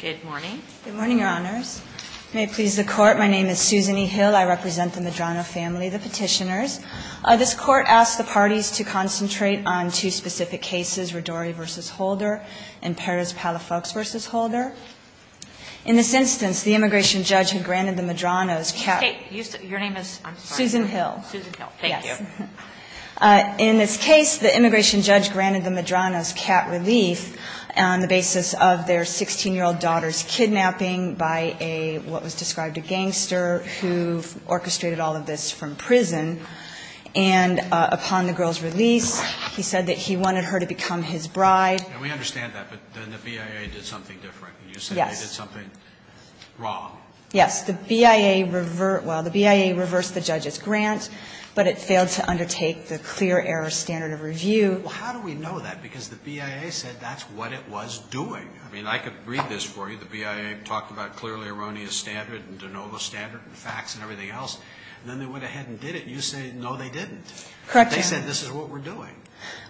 Good morning, Your Honors. May it please the Court, my name is Susan E. Hill. I represent the Medrano family, the Petitioners. This Court asked the parties to concentrate on two specific cases, Rodori v. Holder and Perez-Palafox v. Holder. In this instance, the immigration judge had granted the Medranos cat relief on the basis of their 16-year-old daughter's kidnapping by a, what was described, a gangster who orchestrated all of this from prison. And upon the girl's release, he said that he wanted her to become his bride. And we understand that, but then the BIA did something different. Yes. You said they did something wrong. Yes. The BIA reversed the judge's grant, but it failed to undertake the clear error standard of review. Well, how do we know that? Because the BIA said that's what it was doing. I mean, I could read this for you. The BIA talked about clearly erroneous standard and de novo standard and facts and everything else. And then they went ahead and did it, and you say no, they didn't. Correct, Your Honor. They said this is what we're doing.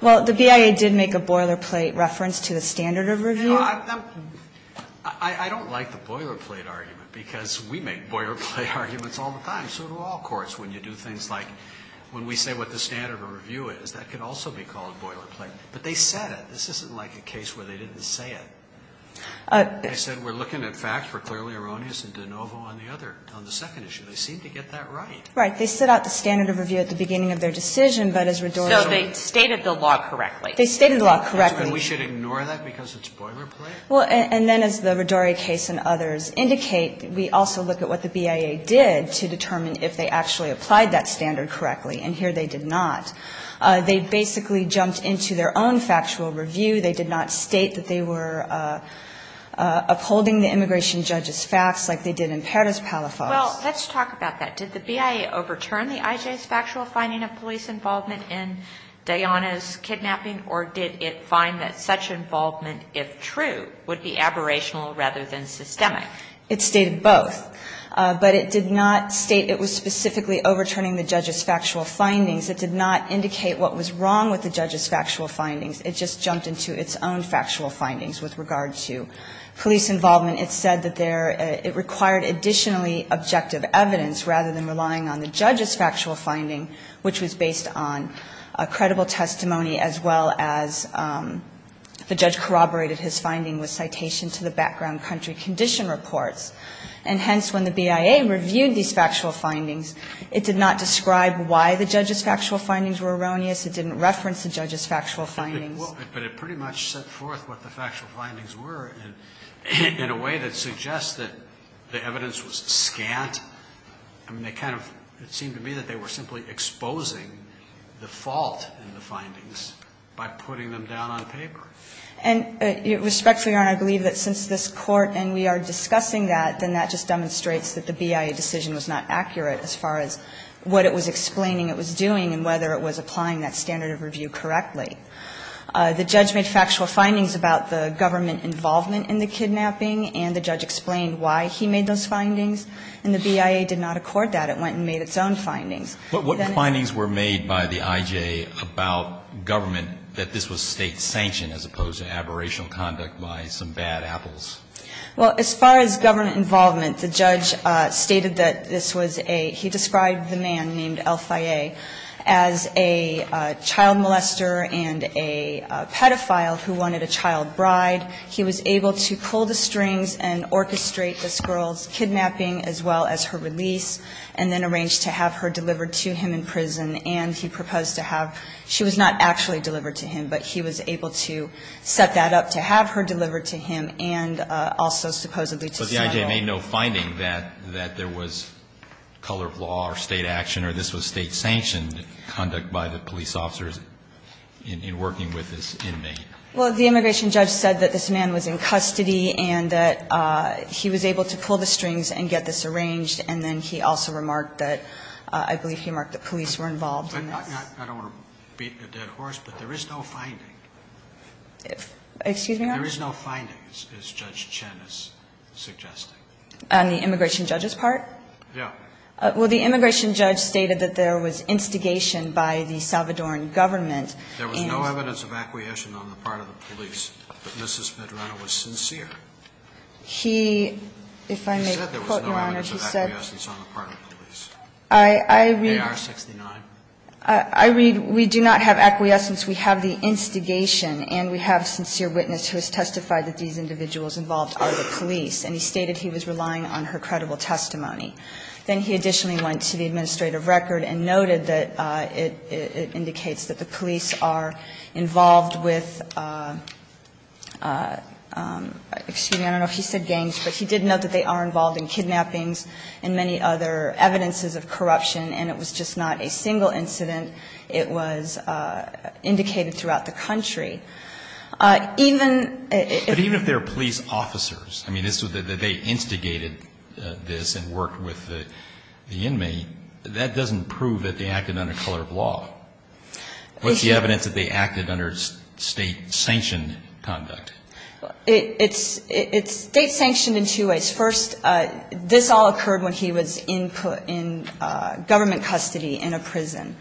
Well, the BIA did make a boilerplate reference to the standard of review. I don't like the boilerplate argument, because we make boilerplate arguments all the time. It's the same sort of law, of course, when you do things like when we say what the standard of review is. That can also be called boilerplate. But they said it. This isn't like a case where they didn't say it. They said we're looking at facts for clearly erroneous and de novo on the other, on the second issue. They seemed to get that right. Right. They set out the standard of review at the beginning of their decision, but as Rodorio ---- So they stated the law correctly. They stated the law correctly. And we should ignore that because it's boilerplate? Well, and then as the Rodorio case and others indicate, we also look at what the BIA did to determine if they actually applied that standard correctly. And here they did not. They basically jumped into their own factual review. They did not state that they were upholding the immigration judge's facts like they did in Perez-Palafox. Well, let's talk about that. Did the BIA overturn the IJ's factual finding of police involvement in Dayana's kidnapping, or did it find that such involvement, if true, would be aberrational rather than systemic? It stated both. But it did not state it was specifically overturning the judge's factual findings. It did not indicate what was wrong with the judge's factual findings. It just jumped into its own factual findings with regard to police involvement. It said that there ---- it required additionally objective evidence rather than relying on the judge's factual finding, which was based on a credible testimony as well as the judge corroborated his finding with citation to the background country condition reports. And hence, when the BIA reviewed these factual findings, it did not describe why the judge's factual findings were erroneous. It didn't reference the judge's factual findings. But it pretty much set forth what the factual findings were in a way that suggests that the evidence was scant. I mean, they kind of ---- it seemed to me that they were simply exposing the fault in the findings by putting them down on paper. And respectfully, Your Honor, I believe that since this Court and we are discussing that, then that just demonstrates that the BIA decision was not accurate as far as what it was explaining it was doing and whether it was applying that standard of review correctly. The judge made factual findings about the government involvement in the kidnapping, and the judge explained why he made those findings. And the BIA did not accord that. It went and made its own findings. But what findings were made by the IJ about government that this was State-sanctioned as opposed to aberrational conduct by some bad apples? Well, as far as government involvement, the judge stated that this was a ---- he described the man named Elfaye as a child molester and a pedophile who wanted a child bride. He was able to pull the strings and orchestrate this girl's kidnapping as well as her release, and then arranged to have her delivered to him in prison. And he proposed to have ---- she was not actually delivered to him, but he was able to set that up to have her delivered to him and also supposedly to ---- But the IJ made no finding that there was color of law or State action or this was State-sanctioned conduct by the police officers in working with this inmate. Well, the immigration judge said that this man was in custody and that he was able to pull the strings and get this arranged, and then he also remarked that ---- I believe he remarked that police were involved in this. I don't want to beat a dead horse, but there is no finding. Excuse me, Your Honor? There is no findings, as Judge Chen is suggesting. On the immigration judge's part? Yeah. Well, the immigration judge stated that there was instigation by the Salvadoran government and ---- But there was no evidence of acquiescence on the part of the police that Mrs. Medrano was sincere. He, if I may quote, Your Honor, he said ---- He said there was no evidence of acquiescence on the part of the police. I read ---- AR-69. I read, we do not have acquiescence. We have the instigation and we have a sincere witness who has testified that these individuals involved are the police, and he stated he was relying on her credible testimony. Then he additionally went to the administrative record and noted that it indicates that the police are involved with ---- excuse me, I don't know if he said gangs, but he did note that they are involved in kidnappings and many other evidences of corruption, and it was just not a single incident. It was indicated throughout the country. Even if ---- But even if they're police officers, I mean, they instigated this and worked with the inmate, that doesn't prove that they acted under color of law. What's the evidence that they acted under state-sanctioned conduct? It's state-sanctioned in two ways. First, this all occurred when he was in government custody in a prison.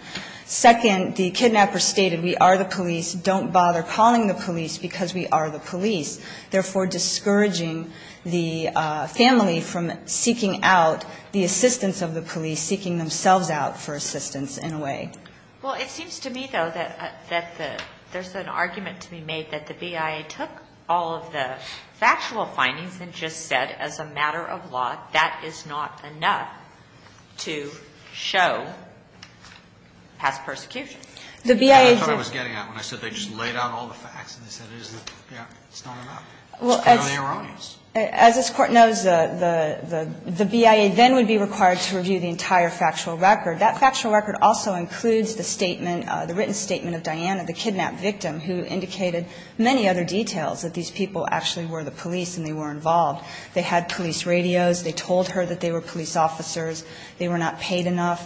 Second, the kidnapper stated we are the police, don't bother calling the police because we are the police, therefore discouraging the family from seeking out the assistance of the police, seeking themselves out for assistance in a way. Well, it seems to me, though, that the ---- there's an argument to be made that the BIA took all of the factual findings and just said as a matter of law that is not enough to show past persecution. The BIA just ---- That's what I was getting at when I said they just laid out all the facts and they said it is the ---- yeah, it's not enough. It's purely erroneous. Well, as this Court knows, the BIA then would be required to review the entire factual record. That factual record also includes the statement, the written statement of Diana, the kidnapped victim, who indicated many other details that these people actually were the police and they were involved. They had police radios. They told her that they were police officers. They were not paid enough.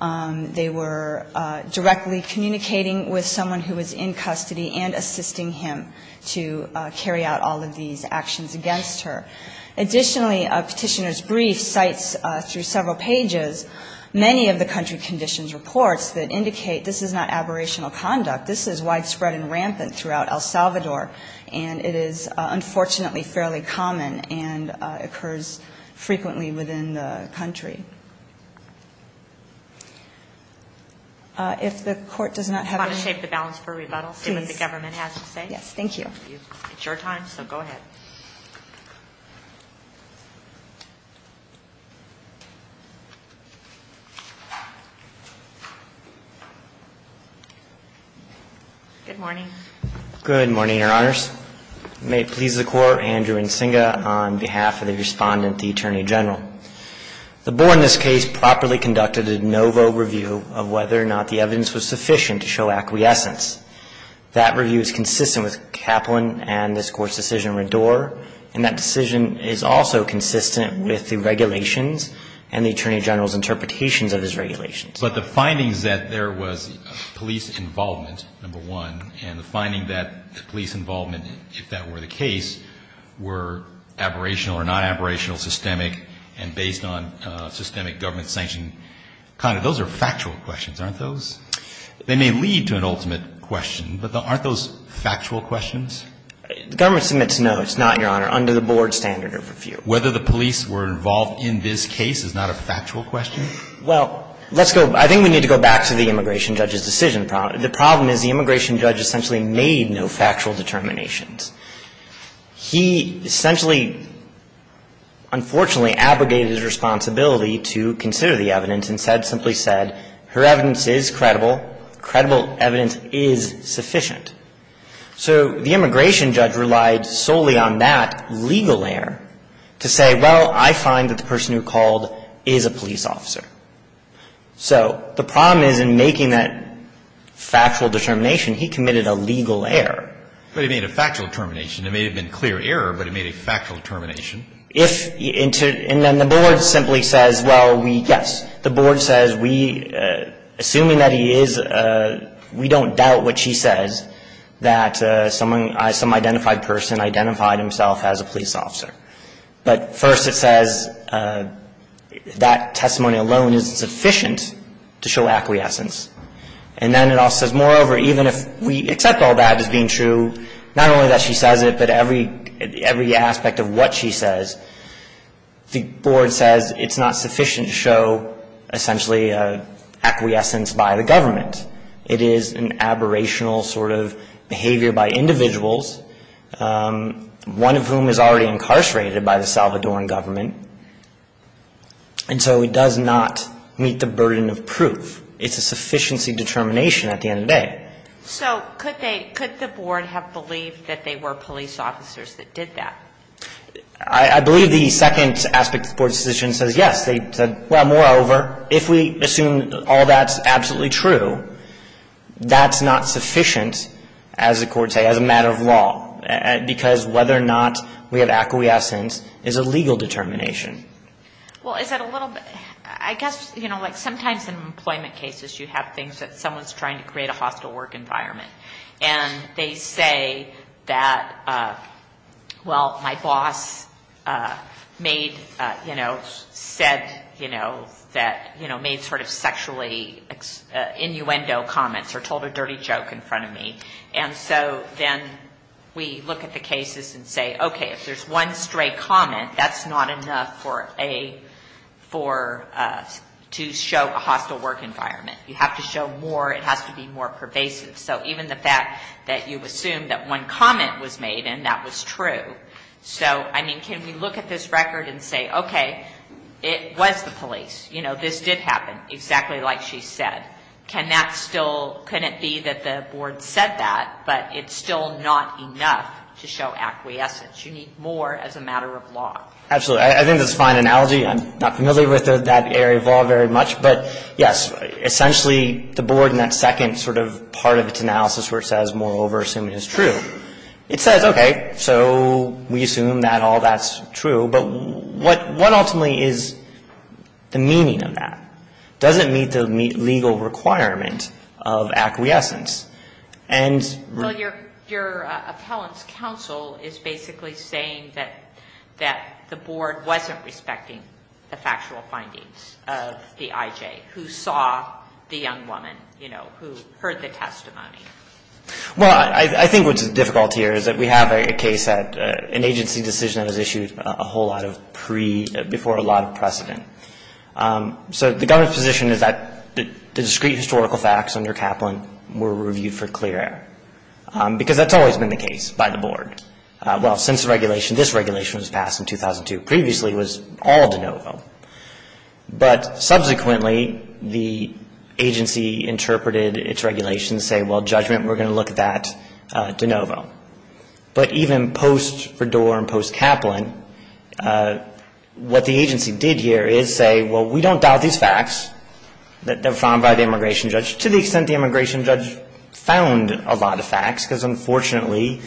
They were directly communicating with someone who was in custody and assisting him to carry out all of these actions against her. Additionally, Petitioner's brief cites through several pages many of the country conditions reports that indicate this is not aberrational conduct. This is widespread and rampant throughout El Salvador, and it is unfortunately fairly common and occurs frequently within the country. If the Court does not have any ---- Do you want to shape the balance for rebuttal, see what the government has to say? Yes. Thank you. It's your time, so go ahead. Good morning, Your Honors. May it please the Court, Andrew Nsinga on behalf of the Respondent, the Attorney General. The Board in this case properly conducted a no-vote review of whether or not the evidence was sufficient to show acquiescence. That review is consistent with Kaplan and this Court's decision in Rador, and that decision is also consistent with the regulations and the Attorney General's interpretations of his regulations. But the findings that there was police involvement, number one, and the finding that the police involvement, if that were the case, were aberrational or not aberrational, systemic, and based on systemic government sanction, kind of, those are factual questions, aren't those? They may lead to an ultimate question, but aren't those factual questions? The government submits no. It's not, Your Honor, under the Board's standard of review. Whether the police were involved in this case is not a factual question? Well, let's go ---- I think we need to go back to the immigration judge's decision. The problem is the immigration judge essentially made no factual determinations. He essentially, unfortunately, abrogated his responsibility to consider the evidence and said, simply said, her evidence is credible, credible evidence is sufficient. So the immigration judge relied solely on that legal error to say, well, I find that the person who called is a police officer. So the problem is in making that factual determination, he committed a legal error. But he made a factual determination. It may have been clear error, but he made a factual determination. And then the Board simply says, well, we, yes, the Board says we, assuming that he is, we don't doubt what she says, that someone, some identified person identified himself as a police officer. But first it says that testimony alone is sufficient to show acquiescence. And then it also says, moreover, even if we accept all that as being true, not only that she says it, but every aspect of what she says, the Board says it's not sufficient to show essentially acquiescence by the government. It is an aberrational sort of behavior by individuals, one of whom is already incarcerated by the Salvadoran government. And so it does not meet the burden of proof. It's a sufficiency determination at the end of the day. So could they, could the Board have believed that they were police officers that did that? I believe the second aspect of the Board's decision says yes. They said, well, moreover, if we assume all that's absolutely true, that's not sufficient, as the courts say, as a matter of law, because whether or not we have acquiescence is a legal determination. Well, is that a little bit, I guess, you know, like sometimes in employment cases you have things that someone's trying to create a hostile work environment. And they say that, well, my boss made, you know, said, you know, that, you know, made sort of sexually innuendo comments or told a dirty joke in front of me. And so then we look at the cases and say, okay, if there's one stray comment, that's not enough for a, for, to show a hostile work environment. You have to show more. It has to be more pervasive. So even the fact that you assume that one comment was made and that was true. So, I mean, can we look at this record and say, okay, it was the police. You know, this did happen, exactly like she said. Can that still, couldn't it be that the Board said that, but it's still not enough to show acquiescence. You need more as a matter of law. Absolutely. I think that's a fine analogy. I'm not familiar with that area of law very much. But, yes, essentially the Board in that second sort of part of its analysis where it says, moreover, assume it is true. It says, okay, so we assume that all that's true. But what ultimately is the meaning of that? Does it meet the legal requirement of acquiescence? Well, your appellant's counsel is basically saying that the Board wasn't respecting the factual findings of the IJ, who saw the young woman, you know, who heard the testimony. Well, I think what's difficult here is that we have a case that an agency decision that was issued a whole lot of pre, before a lot of precedent. So the government's position is that the discrete historical facts under Kaplan were reviewed for clear air, because that's always been the case by the Board. Well, since the regulation, this regulation was passed in 2002. Previously, it was all de novo. But subsequently, the agency interpreted its regulations to say, well, judgment, we're going to look at that de novo. But even post-Verdor and post-Kaplan, what the agency did here is say, well, we don't doubt these facts that were found by the immigration judge, to the extent the immigration judge found a lot of facts, because unfortunately,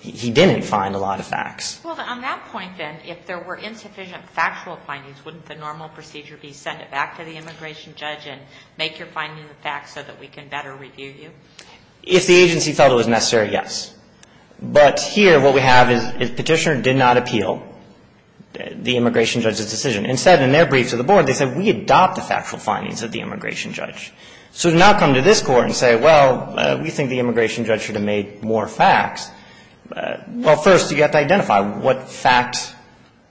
he didn't find a lot of facts. Well, on that point, then, if there were insufficient factual findings, wouldn't the normal procedure be send it back to the immigration judge and make your findings a fact so that we can better review you? If the agency felt it was necessary, yes. But here, what we have is Petitioner did not appeal the immigration judge's decision. Instead, in their brief to the Board, they said, we adopt the factual findings of the immigration judge. So to now come to this Court and say, well, we think the immigration judge should have made more facts, well, first, you have to identify what facts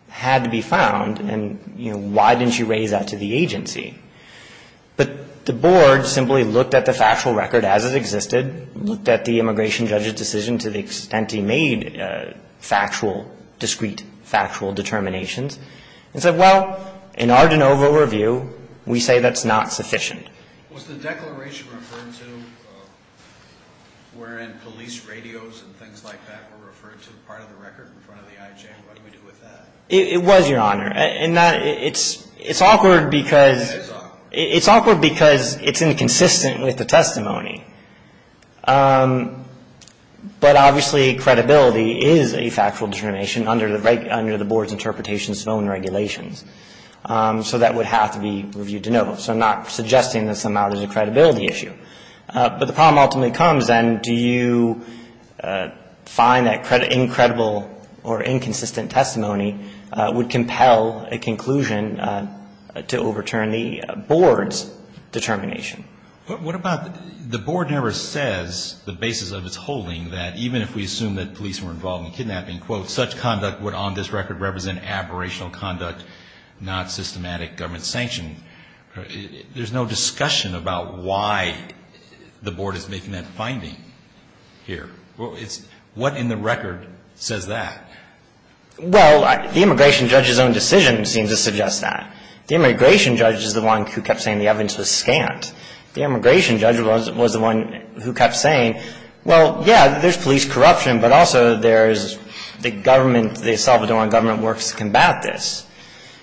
had to be found, and, you know, why didn't you raise that to the agency? But the Board simply looked at the factual record as it existed, looked at the immigration judge's decision to the extent he made factual, discrete, factual determinations, and said, well, in our de novo review, we say that's not sufficient. Was the declaration referred to wherein police radios and things like that were referred to part of the record in front of the IJ? What do we do with that? It was, Your Honor. And it's awkward because it's inconsistent with the testimony. But obviously, credibility is a factual determination under the Board's interpretations of own regulations. So that would have to be reviewed de novo. So I'm not suggesting that somehow there's a credibility issue. But the problem ultimately comes, then, do you find that incredible or inconsistent testimony would compel a conclusion to overturn the Board's determination? What about the Board never says the basis of its holding that even if we assume that police were involved in kidnapping, quote, such conduct would on this record represent aberrational conduct, not systematic government sanction. There's no discussion about why the Board is making that finding here. What in the record says that? Well, the immigration judge's own decision seems to suggest that. The immigration judge is the one who kept saying the evidence was scant. The immigration judge was the one who kept saying, well, yeah, there's police corruption, but also there's the government, the El Salvadoran government works to combat this.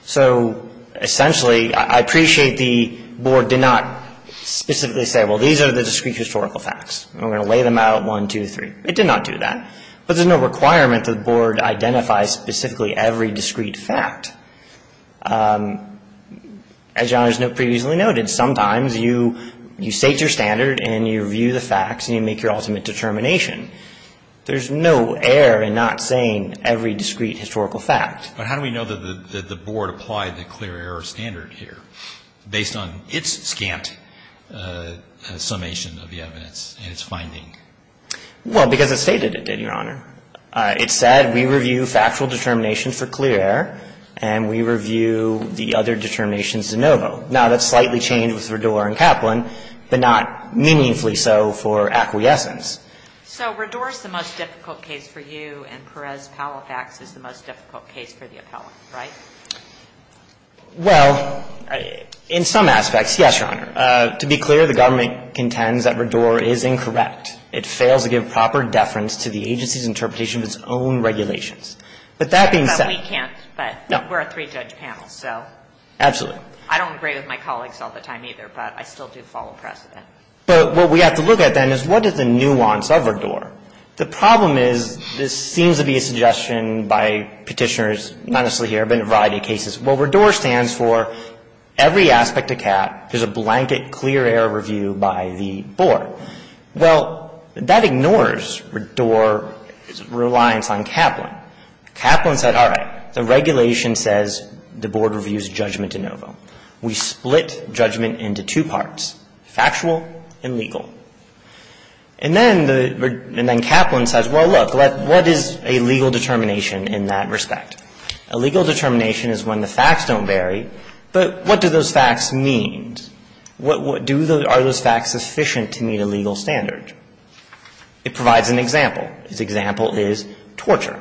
So essentially, I appreciate the Board did not specifically say, well, these are the discrete historical facts, and we're going to lay them out, one, two, three. It did not do that. But there's no requirement that the Board identify specifically every discrete fact. As Your Honor has previously noted, sometimes you state your standard and you review the facts and you make your ultimate determination. There's no error in not saying every discrete historical fact. But how do we know that the Board applied the clear error standard here based on its scant summation of the evidence and its finding? Well, because it stated it did, Your Honor. It said we review factual determinations for clear error and we review the other determinations de novo. Now, that's slightly changed with Rador and Kaplan, but not meaningfully so for acquiescence. So Rador is the most difficult case for you and Perez-Palafax is the most difficult case for the appellant, right? Well, in some aspects, yes, Your Honor. To be clear, the government contends that Rador is incorrect. It fails to give proper deference to the agency's interpretation of its own regulations. But that being said we can't. But we're a three-judge panel, so. Absolutely. I don't agree with my colleagues all the time either, but I still do follow precedent. But what we have to look at then is what is the nuance of Rador? The problem is this seems to be a suggestion by Petitioners, not necessarily here, but in a variety of cases. Well, Rador stands for every aspect of CAT, there's a blanket clear error review by the Board. Well, that ignores Rador's reliance on Kaplan. Kaplan said, all right, the regulation says the Board reviews judgment de novo. We split judgment into two parts, factual and legal. And then Kaplan says, well, look, what is a legal determination in that respect? A legal determination is when the facts don't vary, but what do those facts mean? Are those facts sufficient to meet a legal standard? It provides an example. Its example is torture.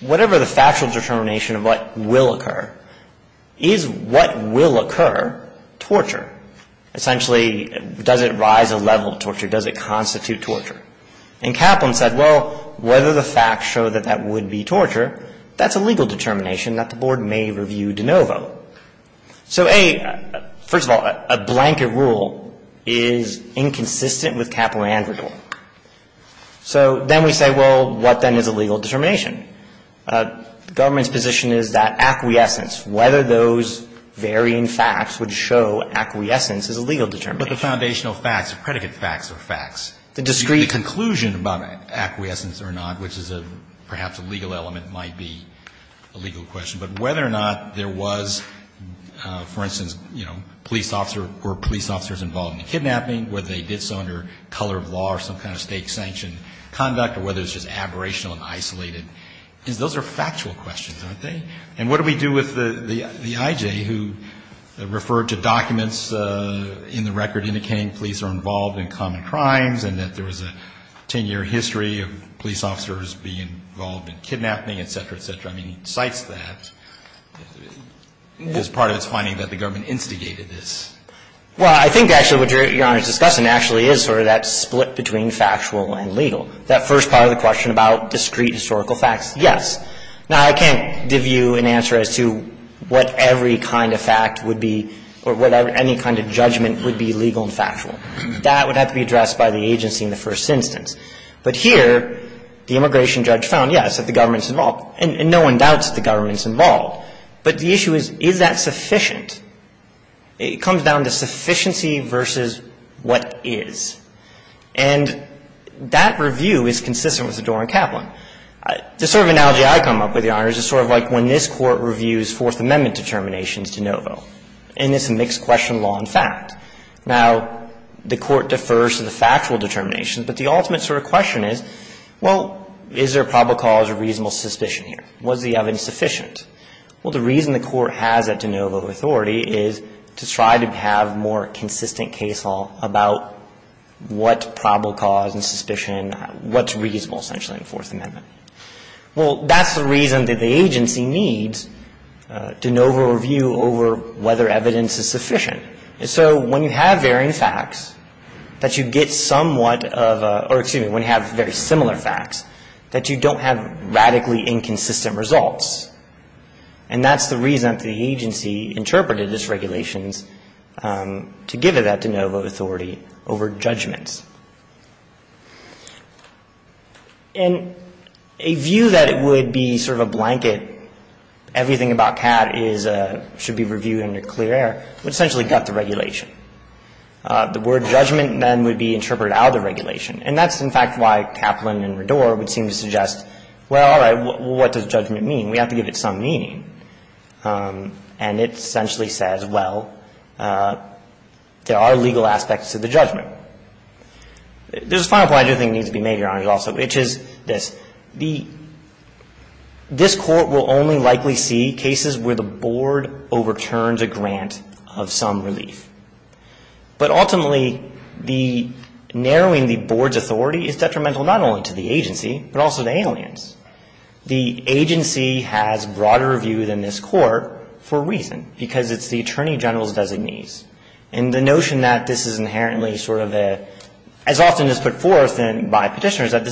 Whatever the factual determination of what will occur, is what will occur torture? Essentially, does it rise a level of torture? Does it constitute torture? And Kaplan said, well, whether the facts show that that would be torture, that's a legal determination that the Board may review de novo. So, A, first of all, a blanket rule is inconsistent with Kaplan and Rador. So then we say, well, what then is a legal determination? The government's position is that acquiescence, whether those varying facts would show acquiescence is a legal determination. But the foundational facts, the predicate facts are facts. The discrete. The conclusion about acquiescence or not, which is perhaps a legal element, might be a legal question. But whether or not there was, for instance, you know, police officer or police officers involved in the kidnapping, whether they did so under color of law or some kind of state-sanctioned conduct, or whether it was just aberrational and isolated, those are factual questions, aren't they? And what do we do with the I.J. who referred to documents in the record indicating police are involved in common crimes and that there was a 10-year history of police officers being involved in kidnapping, et cetera, et cetera? I mean, he cites that as part of his finding that the government instigated this. Well, I think actually what Your Honor is discussing actually is sort of that split between factual and legal. That first part of the question about discrete historical facts, yes. Now, I can't give you an answer as to what every kind of fact would be or what any kind of judgment would be legal and factual. That would have to be addressed by the agency in the first instance. But here, the immigration judge found, yes, that the government's involved. And no one doubts that the government's involved. But the issue is, is that sufficient? It comes down to sufficiency versus what is. And that review is consistent with the Doran-Kaplan. The sort of analogy I come up with, Your Honor, is sort of like when this Court reviews Fourth Amendment determinations de novo in this mixed-question law and fact. Now, the Court defers to the factual determinations, but the ultimate sort of question is, well, is there probable cause or reasonable suspicion here? Was the evidence sufficient? Well, the reason the Court has that de novo authority is to try to have more consistent case law about what probable cause and suspicion, what's reasonable, essentially, in the Fourth Amendment. Well, that's the reason that the agency needs de novo review over whether evidence is sufficient. And so when you have varying facts, that you get somewhat of a, or excuse me, when you have very similar facts, that you don't have radically inconsistent results. And that's the reason that the agency interpreted its regulations to give it that de novo authority over judgments. And a view that it would be sort of a blanket, everything about CAT is, should be reviewed under clear air, would essentially gut the regulation. The word judgment, then, would be interpreted out of the regulation. And that's, in fact, why Kaplan and Rador would seem to suggest, well, all right, what does judgment mean? We have to give it some meaning. And it essentially says, well, there are legal aspects to the judgment. There's a final point I do think needs to be made, Your Honor, also, which is this. This Court will only likely see cases where the board overturns a grant of some relief. But ultimately, the narrowing the board's authority is detrimental not only to the agency, but also to aliens. The agency has broader view than this Court for a reason, because it's the Attorney General's designee. And the notion that this is inherently sort of a, as often is put forth by Petitioners, That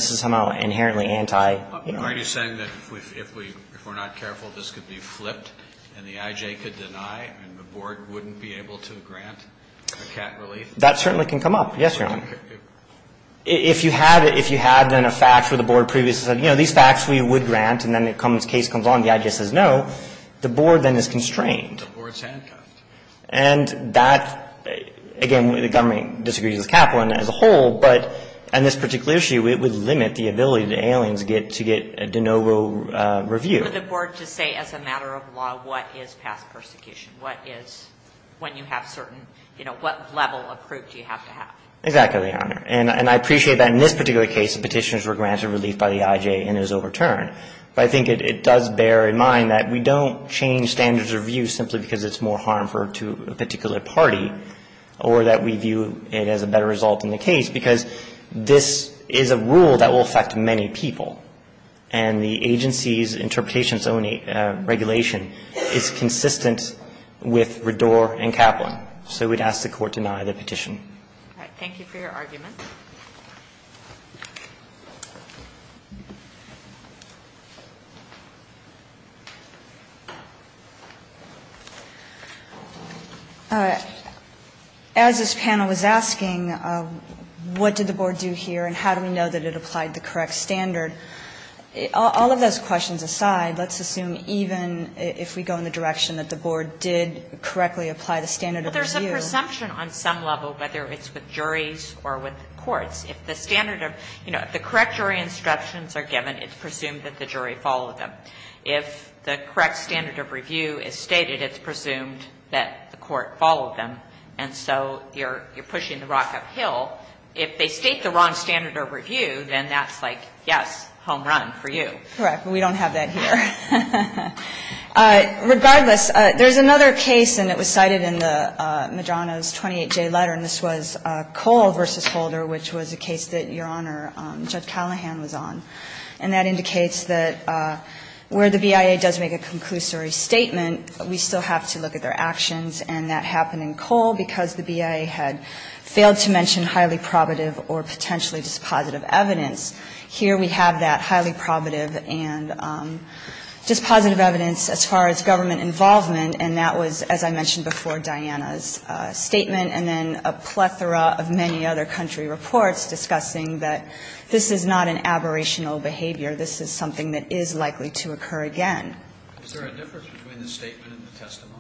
certainly can come up. Yes, Your Honor. If you had, if you had, then, a fact where the board previously said, you know, these facts we would grant. And then the case comes on, the idea says no. The board, then, is constrained. And that, again, the government disagrees with Kaplan as a whole. But on this particular issue, it would limit the ability to aliens get to get a de novo review. For the board to say, as a matter of law, what is past persecution? What is, when you have certain, you know, what level of proof do you have to have? Exactly, Your Honor. And I appreciate that in this particular case, the Petitioners were granted relief by the I.J. and it was overturned. But I think it does bear in mind that we don't change standards of review simply because it's more harmful to a particular party, or that we view it as a better result in the case, because this is a rule that will affect many people. And the agency's interpretation of its own regulation is consistent with Ridor and Kaplan. So we'd ask the Court to deny the petition. All right. Thank you for your argument. All right. As this panel is asking, what did the board do here and how do we know that it applied the correct standard? All of those questions aside, let's assume even if we go in the direction that the board did correctly apply the standard of review. Well, there's a presumption on some level, whether it's with juries or with courts. If the standard of, you know, if the correct jury instructions are given, it's presumed that the jury followed them. If the correct standard of review is stated, it's presumed that the court followed them. And so you're pushing the rock uphill. If they state the wrong standard of review, then that's like, yes, home run for you. Correct. We don't have that here. Regardless, there's another case, and it was cited in the Medrano's 28J letter, and this was Cole v. Holder, which was a case that Your Honor, Judge Callahan was on. And that indicates that where the BIA does make a conclusory statement, we still have to look at their actions. And that happened in Cole because the BIA had failed to mention highly probative or potentially dispositive evidence. Here we have that highly probative and dispositive evidence as far as government involvement, and that was, as I mentioned before, Diana's statement, and then a plethora of many other country reports discussing that this is not an aberrational behavior. This is something that is likely to occur again. Is there a difference between the statement and the testimony?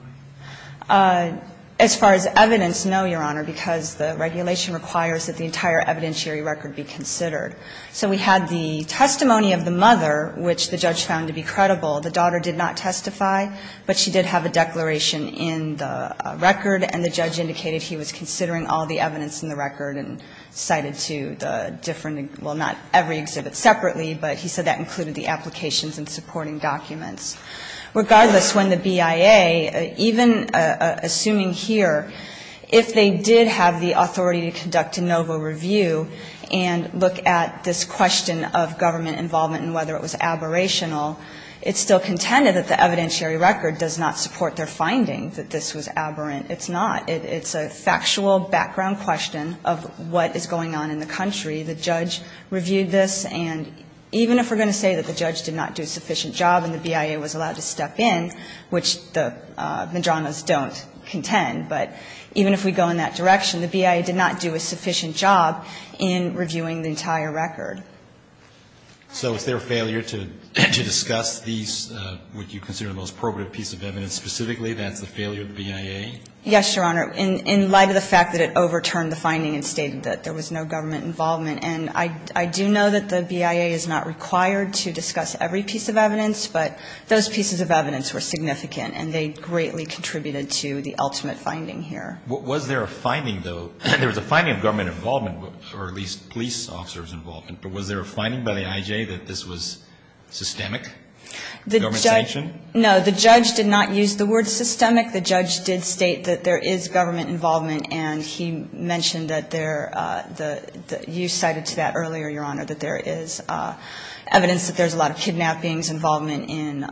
As far as evidence, no, Your Honor, because the regulation requires that the entire evidentiary record be considered. So we had the testimony of the mother, which the judge found to be credible. The daughter did not testify, but she did have a declaration in the record, and the judge indicated he was considering all the evidence in the record and cited to the different, well, not every exhibit separately, but he said that included the applications and supporting documents. Regardless, when the BIA, even assuming here, if they did have the authority to conduct a NOVA review and look at this question of government involvement and whether it was aberrational, it's still contended that the evidentiary record does not support their findings that this was aberrant. It's not. It's a factual background question of what is going on in the country. The judge reviewed this, and even if we're going to say that the judge did not do a sufficient job and the BIA was allowed to step in, which the Medranos don't contend, but even if we go in that direction, the BIA did not do a sufficient job in reviewing the entire record. So is there a failure to discuss these, what you consider the most probative piece of evidence specifically, that's the failure of the BIA? Yes, Your Honor. In light of the fact that it overturned the finding and stated that there was no government involvement, and I do know that the BIA is not required to discuss every piece of evidence, but those pieces of evidence were significant, and they greatly contributed to the ultimate finding here. Was there a finding, though, there was a finding of government involvement or at least police officers' involvement, but was there a finding by the IJ that this was systemic government sanction? No. The judge did not use the word systemic. The judge did state that there is government involvement, and he mentioned that there, you cited to that earlier, Your Honor, that there is evidence that there's a lot of kidnappings, involvement in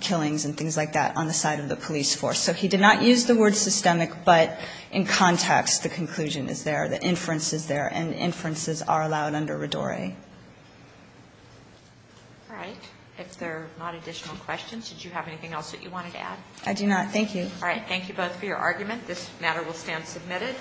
killings and things like that on the side of the police force. So he did not use the word systemic, but in context, the conclusion is there, the inference is there, and inferences are allowed under RIDORE. All right. If there are not additional questions, did you have anything else that you wanted to add? I do not. Thank you. All right. Thank you both for your argument. This matter will stand submitted.